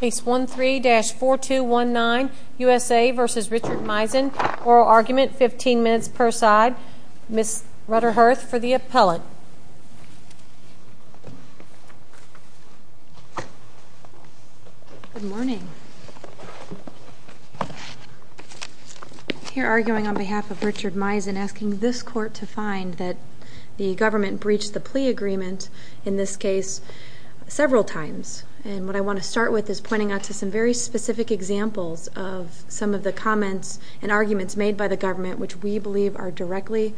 Case 13-4219, U.S.A. v. Richard Miezin, Oral Argument, 15 minutes per side. Ms. Rudderhurst for the appellate. Good morning. I'm here arguing on behalf of Richard Miezin asking this court to find that the government breached the plea agreement, in this case, several times. And what I want to start with is pointing out to some very specific examples of some of the comments and arguments made by the government which we believe are directly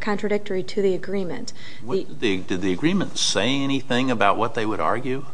contradictory to the agreement. Did the agreement say anything about what they would argue?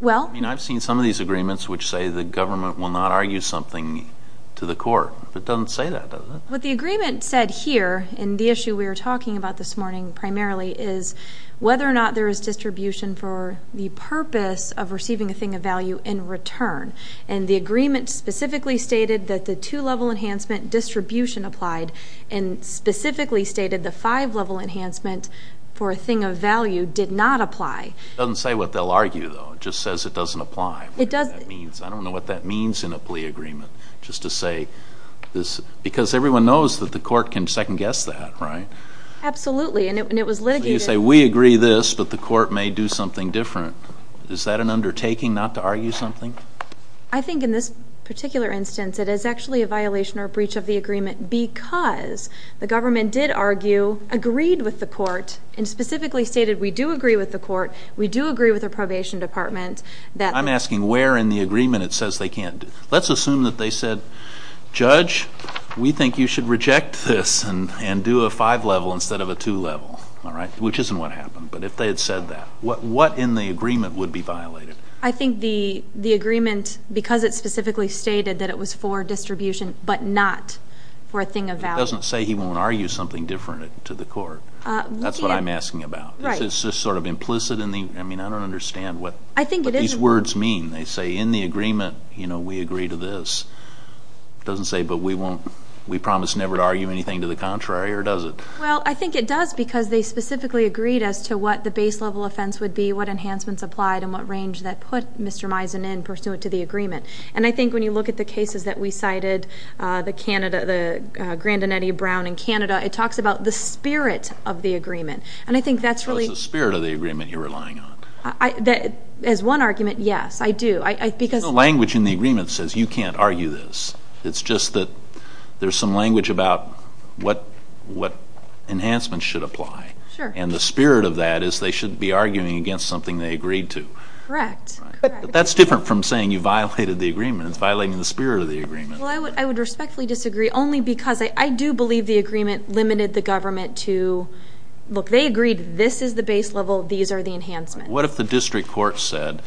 Well... I mean, I've seen some of these agreements which say the government will not argue something to the court. It doesn't say that, does it? What the agreement said here, and the issue we are talking about this morning primarily, is whether or not there is distribution for the purpose of receiving a thing of value in return. And the agreement specifically stated that the two-level enhancement distribution applied, and specifically stated the five-level enhancement for a thing of value did not apply. It doesn't say what they'll argue, though. It just says it doesn't apply. It doesn't. I don't know what that means in a plea agreement, just to say this, because everyone knows that the court can second-guess that, right? Absolutely, and it was litigated... So you say, we agree this, but the court may do something different. Is that an undertaking not to argue something? I think in this particular instance, it is actually a violation or a breach of the agreement because the government did argue, agreed with the court, and specifically stated, we do agree with the court, we do agree with the probation department, that... I'm asking where in the agreement it says they can't do... Let's assume that they said, Judge, we think you should reject this and do a five-level instead of a two-level, all right? Which isn't what happened, but if they had said that, what in the agreement would be violated? I think the agreement, because it specifically stated that it was for distribution, but not for a thing of value. It doesn't say he won't argue something different to the court. That's what I'm asking about. Right. It's just sort of implicit in the... I mean, I don't understand what these words mean. They say, in the agreement, you know, we agree to this. It doesn't say, but we promise never to argue anything to the contrary, or does it? Well, I think it does because they specifically agreed as to what the base-level offense would be, what enhancements applied, and what range that put Mr. Misen in pursuant to the agreement. And I think when you look at the cases that we cited, the Grandinetti-Brown in Canada, it talks about the spirit of the agreement, and I think that's really... So it's the spirit of the agreement you're relying on. As one argument, yes, I do. There's no language in the agreement that says you can't argue this. It's just that there's some language about what enhancements should apply. Sure. And the spirit of that is they should be arguing against something they agreed to. Correct. But that's different from saying you violated the agreement. It's violating the spirit of the agreement. Well, I would respectfully disagree only because I do believe the agreement limited the government to, look, they agreed this is the base level, these are the enhancements. What if the district court said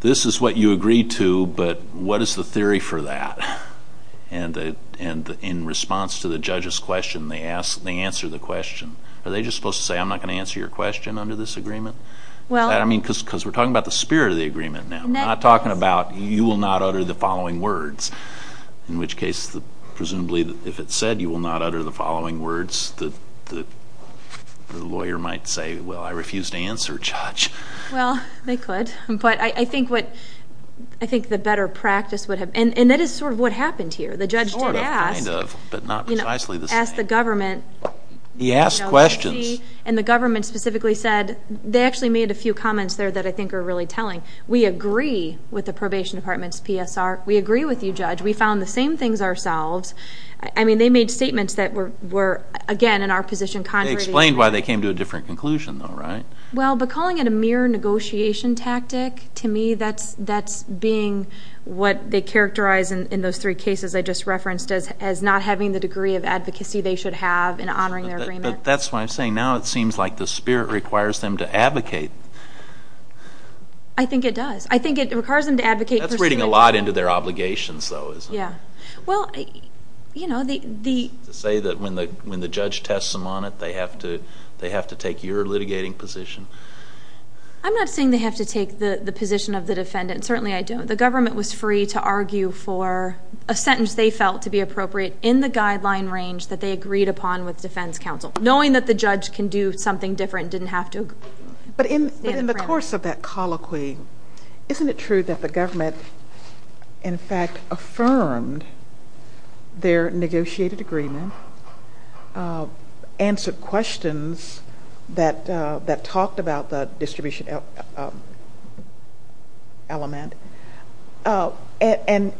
this is what you agreed to, but what is the theory for that? And in response to the judge's question, they answer the question. Are they just supposed to say I'm not going to answer your question under this agreement? I mean, because we're talking about the spirit of the agreement now. We're not talking about you will not utter the following words, in which case presumably if it said you will not utter the following words, the lawyer might say, well, I refuse to answer, Judge. Well, they could. But I think the better practice would have, and that is sort of what happened here. The judge did ask. Sort of, kind of, but not precisely the same. Asked the government. He asked questions. And the government specifically said, they actually made a few comments there that I think are really telling. We agree with the probation department's PSR. We agree with you, Judge. We found the same things ourselves. I mean, they made statements that were, again, in our position. They explained why they came to a different conclusion, though, right? Well, but calling it a mere negotiation tactic, to me, that's being what they characterize in those three cases I just referenced as not having the degree of advocacy they should have in honoring their agreement. But that's why I'm saying now it seems like the spirit requires them to advocate. I think it does. I think it requires them to advocate. That's reading a lot into their obligations, though, isn't it? Yeah. Well, you know, the... To say that when the judge tests them on it, they have to take your litigating position. I'm not saying they have to take the position of the defendant. Certainly I don't. The government was free to argue for a sentence they felt to be appropriate in the guideline range that they agreed upon with defense counsel. Knowing that the judge can do something different didn't have to... But in the course of that colloquy, isn't it true that the government, in fact, affirmed their negotiated agreement, answered questions that talked about the distribution element? And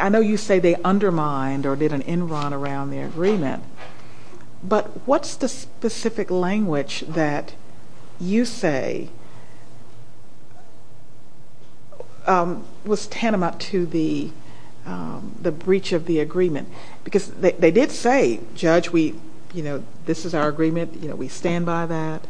I know you say they undermined or did an en run around the agreement, but what's the specific language that you say was tantamount to the breach of the agreement? Because they did say, Judge, this is our agreement. We stand by that.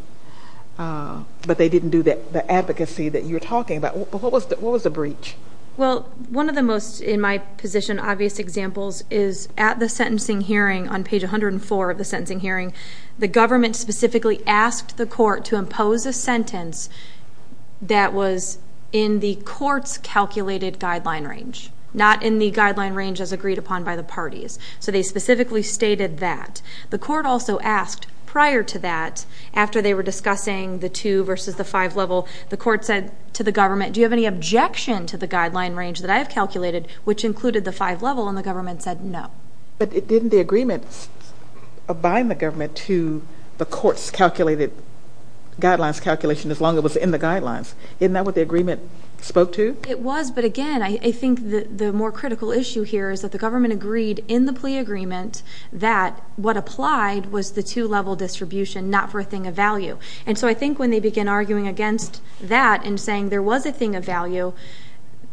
But they didn't do the advocacy that you're talking about. But what was the breach? Well, one of the most, in my position, obvious examples is at the sentencing hearing, on page 104 of the sentencing hearing, the government specifically asked the court to impose a sentence that was in the court's calculated guideline range, not in the guideline range as agreed upon by the parties. So they specifically stated that. The court also asked prior to that, after they were discussing the two versus the five level, the court said to the government, do you have any objection to the guideline range that I have calculated, which included the five level, and the government said no. But didn't the agreement bind the government to the court's calculated guidelines calculation as long as it was in the guidelines? Isn't that what the agreement spoke to? It was, but again, I think the more critical issue here is that the government agreed in the plea agreement that what applied was the two-level distribution, not for a thing of value. And so I think when they begin arguing against that and saying there was a thing of value,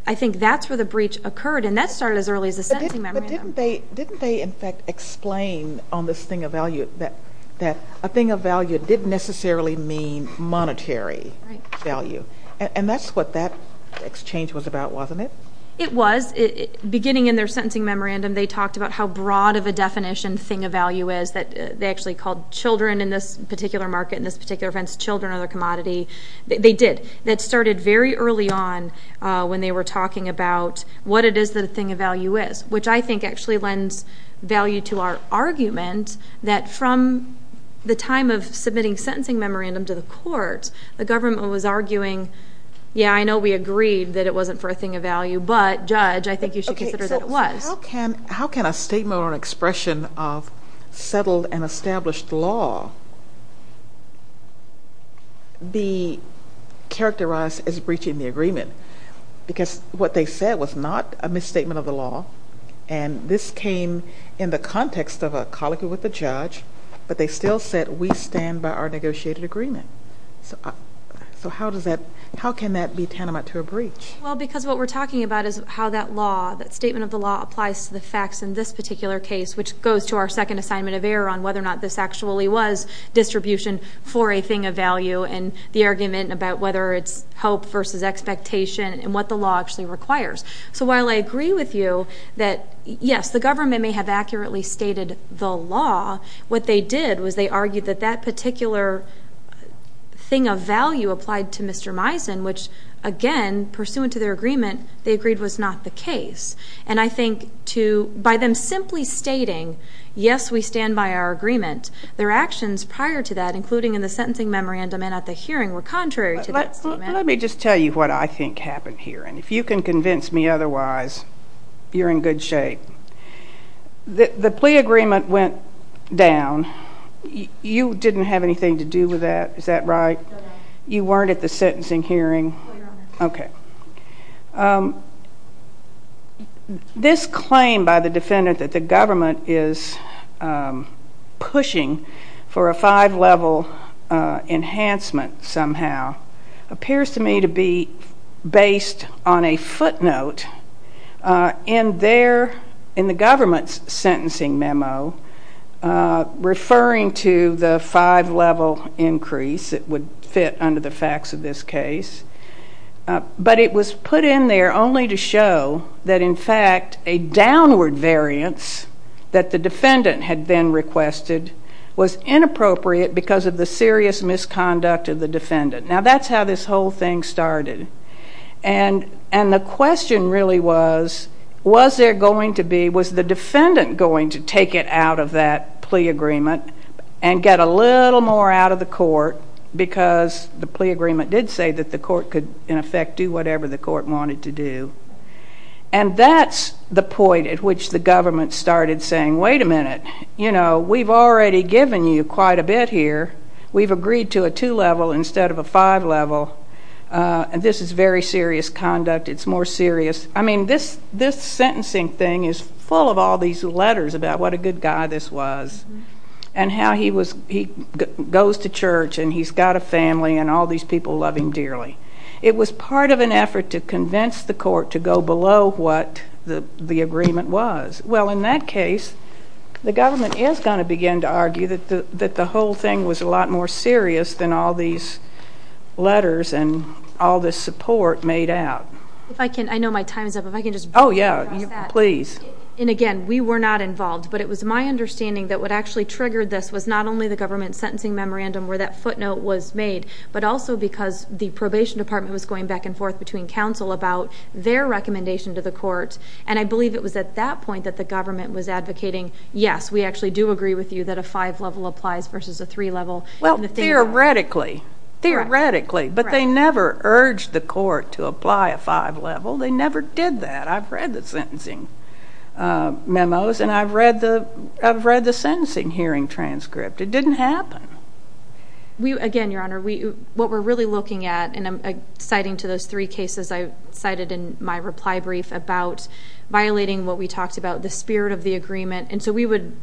I think that's where the breach occurred, and that started as early as the sentencing memorandum. But didn't they, in fact, explain on this thing of value that a thing of value didn't necessarily mean monetary value? And that's what that exchange was about, wasn't it? It was. Beginning in their sentencing memorandum, they talked about how broad of a definition thing of value is, that they actually called children in this particular market, in this particular fence, children or their commodity. They did. That started very early on when they were talking about what it is that a thing of value is, which I think actually lends value to our argument that from the time of submitting sentencing memorandum to the court, the government was arguing, yeah, I know we agreed that it wasn't for a thing of value, but, judge, I think you should consider that it was. How can a statement or an expression of settled and established law be characterized as breaching the agreement? Because what they said was not a misstatement of the law, and this came in the context of a colloquy with the judge, but they still said we stand by our negotiated agreement. So how can that be tantamount to a breach? Well, because what we're talking about is how that law, that statement of the law applies to the facts in this particular case, which goes to our second assignment of error on whether or not this actually was distribution for a thing of value and the argument about whether it's hope versus expectation and what the law actually requires. So while I agree with you that, yes, the government may have accurately stated the law, what they did was they argued that that particular thing of value applied to Mr. Misen, which, again, pursuant to their agreement, they agreed was not the case. And I think by them simply stating, yes, we stand by our agreement, their actions prior to that, including in the sentencing memorandum and at the hearing, were contrary to that statement. Let me just tell you what I think happened here, and if you can convince me otherwise, you're in good shape. The plea agreement went down. You didn't have anything to do with that. Is that right? You weren't at the sentencing hearing. No, Your Honor. Okay. This claim by the defendant that the government is pushing for a five-level enhancement somehow appears to me to be based on a footnote in the government's sentencing memo referring to the five-level increase. It would fit under the facts of this case. But it was put in there only to show that, in fact, a downward variance that the defendant had then requested was inappropriate because of the serious misconduct of the defendant. Now, that's how this whole thing started. And the question really was, was there going to be, was the defendant going to take it out of that plea agreement and get a little more out of the court because the plea agreement did say that the court could, in effect, do whatever the court wanted to do? And that's the point at which the government started saying, wait a minute, you know, we've already given you quite a bit here. We've agreed to a two-level instead of a five-level, and this is very serious conduct. It's more serious. I mean, this sentencing thing is full of all these letters about what a good guy this was and how he goes to church and he's got a family and all these people love him dearly. It was part of an effort to convince the court to go below what the agreement was. Well, in that case, the government is going to begin to argue that the whole thing was a lot more serious than all these letters and all this support made out. If I can, I know my time is up. Oh, yeah, please. And again, we were not involved, but it was my understanding that what actually triggered this was not only the government sentencing memorandum where that footnote was made, but also because the probation department was going back and forth between counsel about their recommendation to the court, and I believe it was at that point that the government was advocating, yes, we actually do agree with you that a five-level applies versus a three-level. Well, theoretically. Theoretically, but they never urged the court to apply a five-level. They never did that. I've read the sentencing memos and I've read the sentencing hearing transcript. It didn't happen. Again, Your Honor, what we're really looking at, and I'm citing to those three cases I cited in my reply brief about violating what we talked about, the spirit of the agreement, and so we would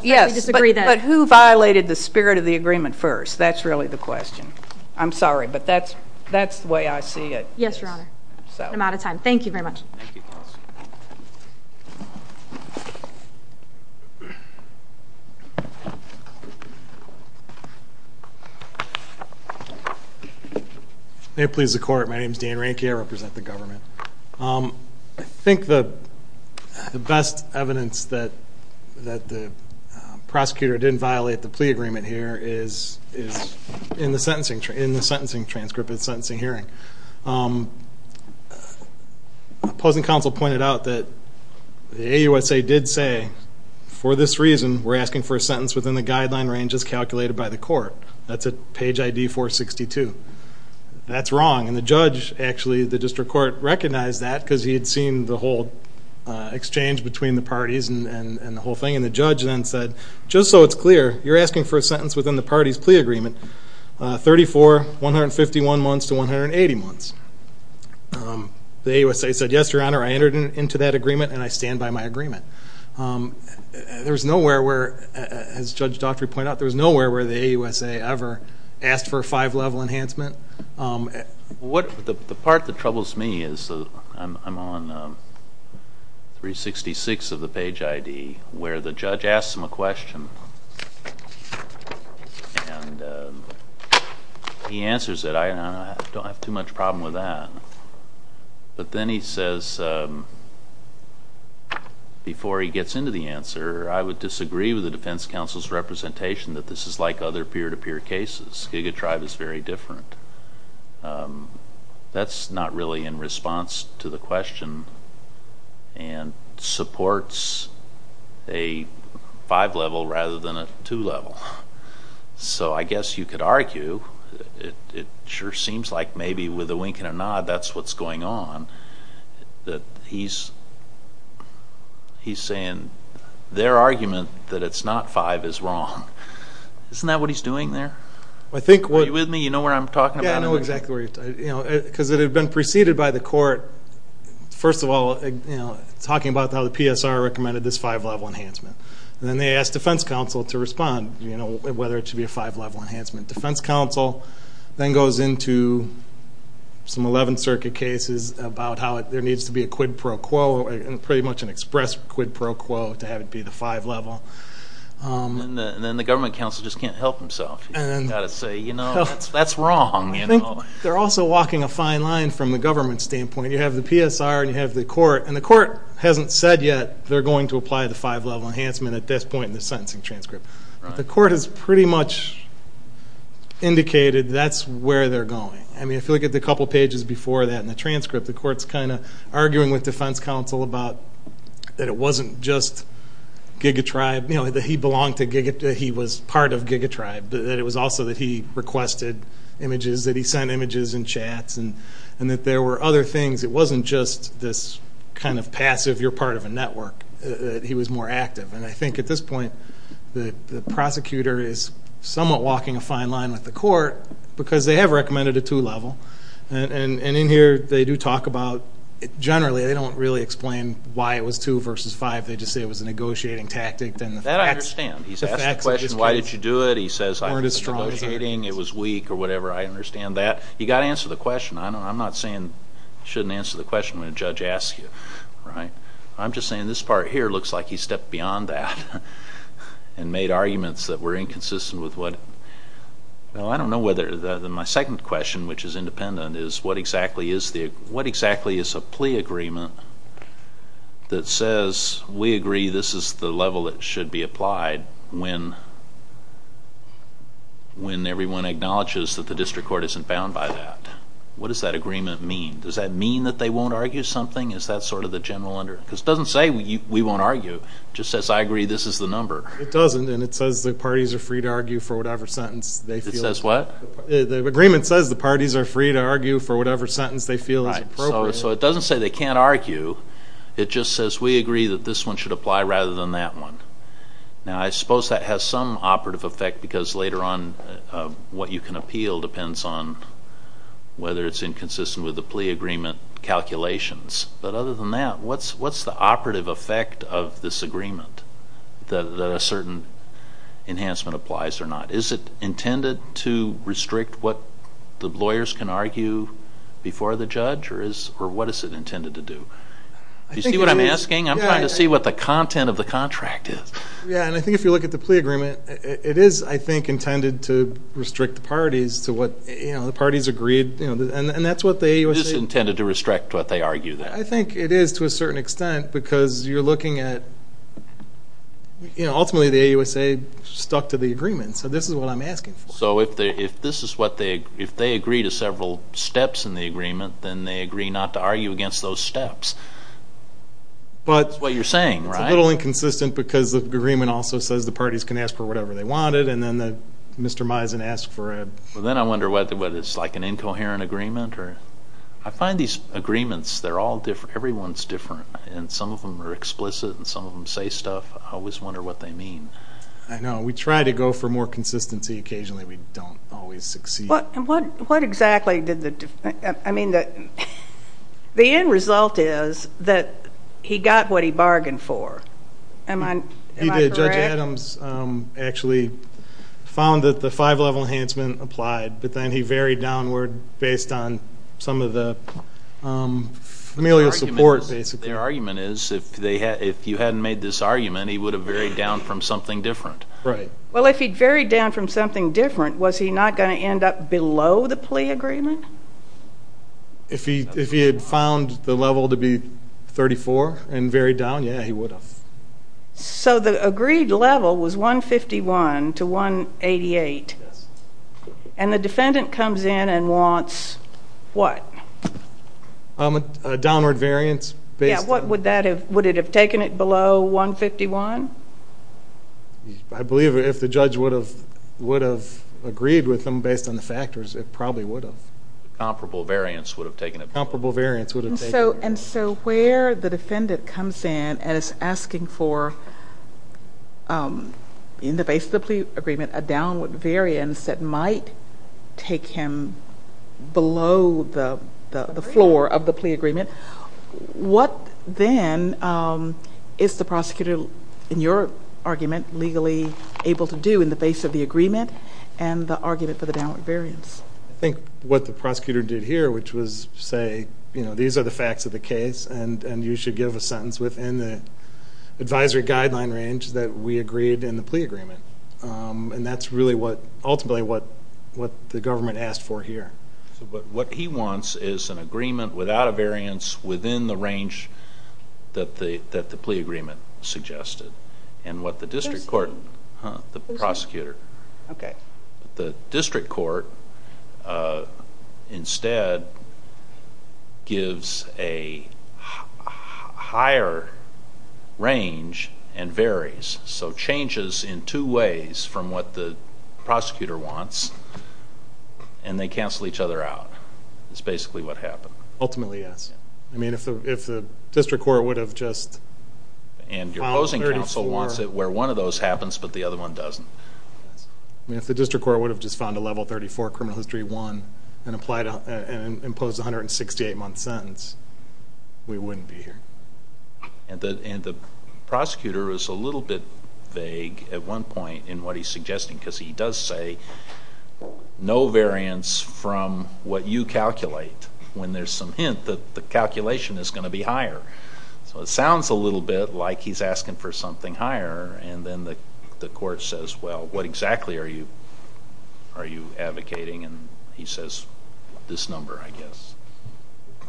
disagree that. But who violated the spirit of the agreement first? That's really the question. I'm sorry, but that's the way I see it. Yes, Your Honor. I'm out of time. Thank you very much. May it please the Court. My name is Dan Rehnke. I represent the government. I think the best evidence that the prosecutor didn't violate the plea agreement here is in the sentencing transcript of the sentencing hearing. Opposing counsel pointed out that the AUSA did say, for this reason, we're asking for a sentence within the guideline range as calculated by the court. That's at page ID 462. That's wrong. And the judge, actually, the district court, recognized that because he had seen the whole exchange between the parties and the whole thing. And the judge then said, just so it's clear, you're asking for a sentence within the parties' plea agreement, 34, 151 months to 180 months. The AUSA said, yes, Your Honor, I entered into that agreement and I stand by my agreement. There's nowhere where, as Judge Daughtry pointed out, there's nowhere where the AUSA ever asked for a five-level enhancement. The part that troubles me is I'm on 366 of the page ID where the judge asks him a question. He answers it. I don't have too much problem with that. But then he says, before he gets into the answer, I would disagree with the defense counsel's representation that this is like other peer-to-peer cases. Giga Tribe is very different. That's not really in response to the question and supports a five-level rather than a two-level. So I guess you could argue, it sure seems like maybe with a wink and a nod that's what's going on, that he's saying their argument that it's not five is wrong. Isn't that what he's doing there? Are you with me? You know where I'm talking about? Yeah, I know exactly where you're talking. Because it had been preceded by the court, first of all, talking about how the PSR recommended this five-level enhancement. And then they asked defense counsel to respond, whether it should be a five-level enhancement. Defense counsel then goes into some 11th Circuit cases about how there needs to be a quid pro quo and pretty much an express quid pro quo to have it be the five-level. And then the government counsel just can't help himself. He's got to say, you know, that's wrong. I think they're also walking a fine line from the government standpoint. You have the PSR and you have the court, and the court hasn't said yet they're going to apply the five-level enhancement at this point in the sentencing transcript. But the court has pretty much indicated that's where they're going. I mean, if you look at the couple pages before that in the transcript, the court's kind of arguing with defense counsel about that it wasn't just GigaTribe, you know, that he belonged to GigaTribe, that he was part of GigaTribe, but that it was also that he requested images, that he sent images and chats, and that there were other things. It wasn't just this kind of passive, you're part of a network, that he was more active. And I think at this point the prosecutor is somewhat walking a fine line with the court because they have recommended a two-level. And in here they do talk about generally they don't really explain why it was two versus five. They just say it was a negotiating tactic. That I understand. He's asked the question, why did you do it? He says, I was negotiating. It was weak or whatever. I understand that. You've got to answer the question. I'm not saying you shouldn't answer the question when a judge asks you, right? I'm just saying this part here looks like he stepped beyond that and made arguments that were inconsistent with what. Well, I don't know whether my second question, which is independent, is what exactly is a plea agreement that says, we agree this is the level that should be applied when everyone acknowledges that the district court isn't bound by that? What does that agreement mean? Does that mean that they won't argue something? Is that sort of the general understanding? Because it doesn't say we won't argue. It just says I agree this is the number. It doesn't, and it says the parties are free to argue for whatever sentence they feel is appropriate. It says what? The agreement says the parties are free to argue for whatever sentence they feel is appropriate. So it doesn't say they can't argue. It just says we agree that this one should apply rather than that one. Now, I suppose that has some operative effect because later on what you can appeal depends on whether it's inconsistent with the plea agreement calculations. But other than that, what's the operative effect of this agreement, that a certain enhancement applies or not? Is it intended to restrict what the lawyers can argue before the judge? Or what is it intended to do? Do you see what I'm asking? I'm trying to see what the content of the contract is. Yeah, and I think if you look at the plea agreement, it is, I think, intended to restrict the parties to what the parties agreed, and that's what they say. So it's intended to restrict what they argue there. I think it is to a certain extent because you're looking at, you know, ultimately the AUSA stuck to the agreement, so this is what I'm asking for. So if this is what they, if they agree to several steps in the agreement, then they agree not to argue against those steps. That's what you're saying, right? It's a little inconsistent because the agreement also says the parties can ask for whatever they wanted and then Mr. Mizen asked for a... Then I wonder whether it's like an incoherent agreement. I find these agreements, they're all different, everyone's different, and some of them are explicit and some of them say stuff. I always wonder what they mean. I know. We try to go for more consistency occasionally. We don't always succeed. What exactly did the, I mean, the end result is that he got what he bargained for. Am I correct? What he did, Judge Adams actually found that the five-level enhancement applied, but then he varied downward based on some of the familial support, basically. Their argument is if you hadn't made this argument, he would have varied down from something different. Right. Well, if he'd varied down from something different, was he not going to end up below the plea agreement? If he had found the level to be 34 and varied down, yeah, he would have. The agreed level was 151 to 188, and the defendant comes in and wants what? A downward variance based on... Yeah, would it have taken it below 151? I believe if the judge would have agreed with him based on the factors, it probably would have. Comparable variance would have taken it. Comparable variance would have taken it. So where the defendant comes in and is asking for, in the base of the plea agreement, a downward variance that might take him below the floor of the plea agreement, what then is the prosecutor, in your argument, legally able to do in the base of the agreement and the argument for the downward variance? I think what the prosecutor did here, which was say, these are the facts of the case, and you should give a sentence within the advisory guideline range that we agreed in the plea agreement, and that's really ultimately what the government asked for here. But what he wants is an agreement without a variance within the range that the plea agreement suggested, and what the district court... Who's he? The prosecutor. Okay. The district court instead gives a higher range and varies, so changes in two ways from what the prosecutor wants, and they cancel each other out. That's basically what happened. Ultimately, yes. I mean, if the district court would have just... And your opposing counsel wants it where one of those happens but the other one doesn't. I mean, if the district court would have just found a level 34 criminal history 1 and imposed a 168-month sentence, we wouldn't be here. And the prosecutor is a little bit vague at one point in what he's suggesting because he does say no variance from what you calculate when there's some hint that the calculation is going to be higher. So it sounds a little bit like he's asking for something higher, and then the court says, well, what exactly are you advocating? And he says, this number, I guess.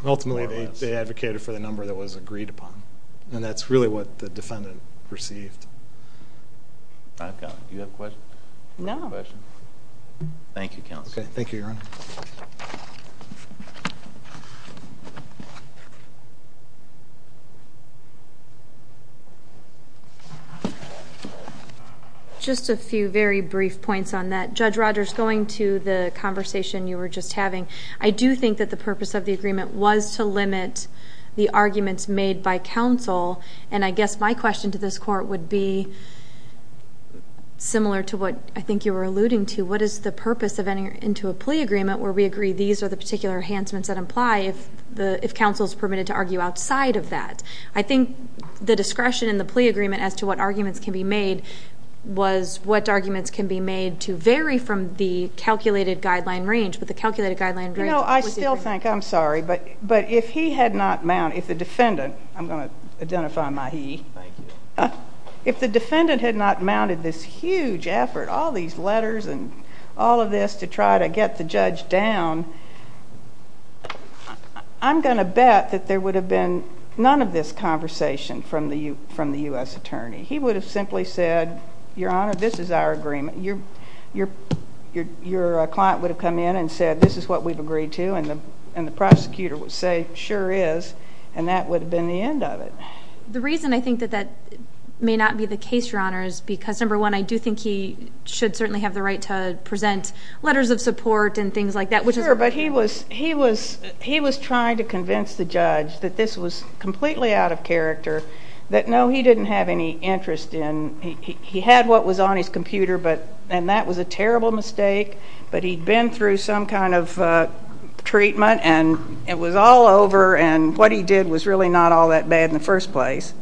Ultimately, they advocated for the number that was agreed upon, and that's really what the defendant received. Do you have a question? No. Thank you, counsel. Okay. Thank you, Your Honor. Just a few very brief points on that. Judge Rogers, going to the conversation you were just having, I do think that the purpose of the agreement was to limit the arguments made by counsel. And I guess my question to this court would be, similar to what I think you were alluding to, what is the purpose of entering into a plea agreement where we agree these are the particular enhancements that apply if counsel is permitted to argue outside of that? I think the discretion in the plea agreement as to what arguments can be made was what arguments can be made to vary from the calculated guideline range, but the calculated guideline range was different. You know, I still think, I'm sorry, but if he had not mounted, if the defendant, I'm going to identify my he, if the defendant had not mounted this huge effort, all these letters and all of this to try to get the judge down, I'm going to bet that there would have been none of this conversation from the U.S. attorney. He would have simply said, Your Honor, this is our agreement. Your client would have come in and said, this is what we've agreed to, and the prosecutor would say, sure is, and that would have been the end of it. The reason I think that that may not be the case, Your Honor, is because, number one, I do think he should certainly have the right to present letters of support and things like that, but he was trying to convince the judge that this was completely out of character, that, no, he didn't have any interest in, he had what was on his computer, and that was a terrible mistake, but he'd been through some kind of treatment and it was all over, and what he did was really not all that bad in the first place.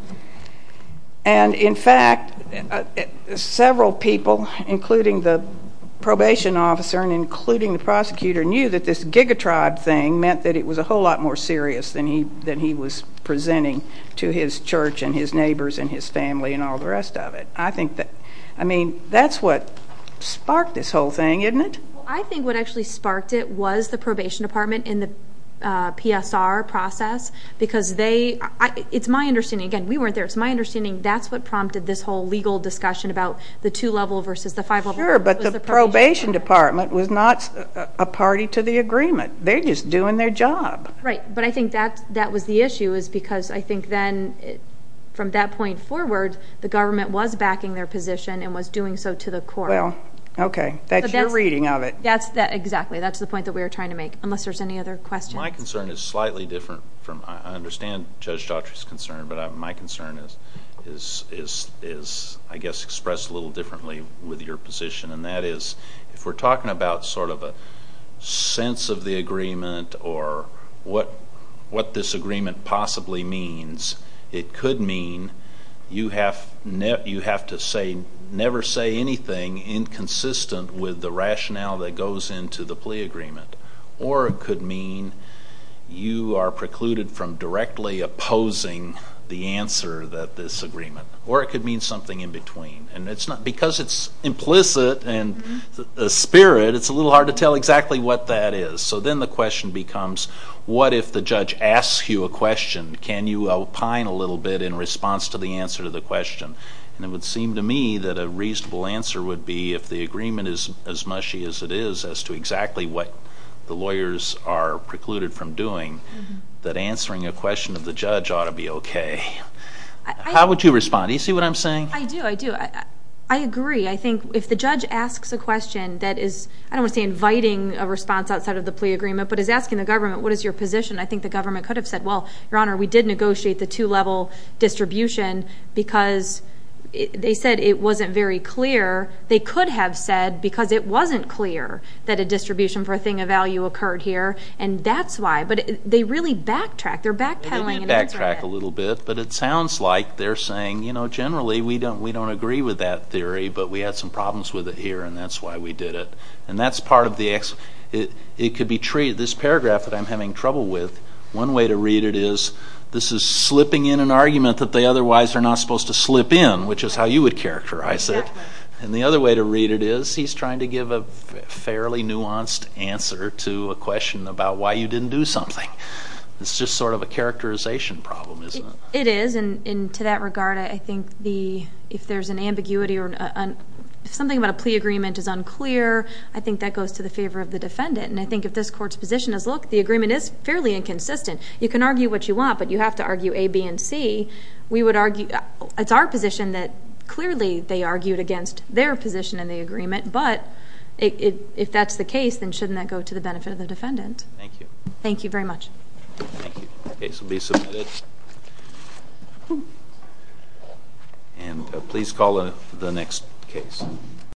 And, in fact, several people, including the probation officer and including the prosecutor, knew that this gigatribe thing meant that it was a whole lot more serious than he was presenting to his church and his neighbors and his family and all the rest of it. I mean, that's what sparked this whole thing, isn't it? I think what actually sparked it was the probation department in the PSR process because they, it's my understanding, again, we weren't there, it's my understanding that's what prompted this whole legal discussion about the two-level versus the five-level. Sure, but the probation department was not a party to the agreement. They're just doing their job. Right, but I think that was the issue is because I think then, from that point forward, the government was backing their position and was doing so to the core. Well, okay, that's your reading of it. Exactly, that's the point that we were trying to make, unless there's any other questions. My concern is slightly different from, I understand Judge Daughtry's concern, but my concern is, I guess, expressed a little differently with your position, and that is if we're talking about sort of a sense of the agreement or what this agreement possibly means, it could mean you have to never say anything inconsistent with the rationale that goes into the plea agreement, or it could mean you are precluded from directly opposing the answer that this agreement, or it could mean something in between. And because it's implicit and a spirit, it's a little hard to tell exactly what that is. So then the question becomes, what if the judge asks you a question? Can you opine a little bit in response to the answer to the question? And it would seem to me that a reasonable answer would be, if the agreement is as mushy as it is as to exactly what the lawyers are precluded from doing, that answering a question of the judge ought to be okay. How would you respond? Do you see what I'm saying? I do, I do. I agree. I think if the judge asks a question that is, I don't want to say inviting a response outside of the plea agreement, but is asking the government, what is your position? I think the government could have said, well, Your Honor, we did negotiate the two-level distribution because they said it wasn't very clear. They could have said, because it wasn't clear that a distribution for a thing of value occurred here, and that's why. But they really backtrack. They're backpedaling an answer ahead. They did backtrack a little bit, but it sounds like they're saying, you know, generally we don't agree with that theory, but we had some problems with it here, and that's why we did it. And that's part of the ex- It could be treated, this paragraph that I'm having trouble with, one way to read it is, this is slipping in an argument that they otherwise are not supposed to slip in, which is how you would characterize it. And the other way to read it is, he's trying to give a fairly nuanced answer to a question about why you didn't do something. It's just sort of a characterization problem, isn't it? It is, and to that regard, I think if there's an ambiguity or something about a plea agreement is unclear, I think that goes to the favor of the defendant. And I think if this court's position is, look, the agreement is fairly inconsistent. You can argue what you want, but you have to argue A, B, and C. It's our position that clearly they argued against their position in the agreement, but if that's the case, then shouldn't that go to the benefit of the defendant? Thank you. Thank you very much. Thank you. The case will be submitted. And please call the next case.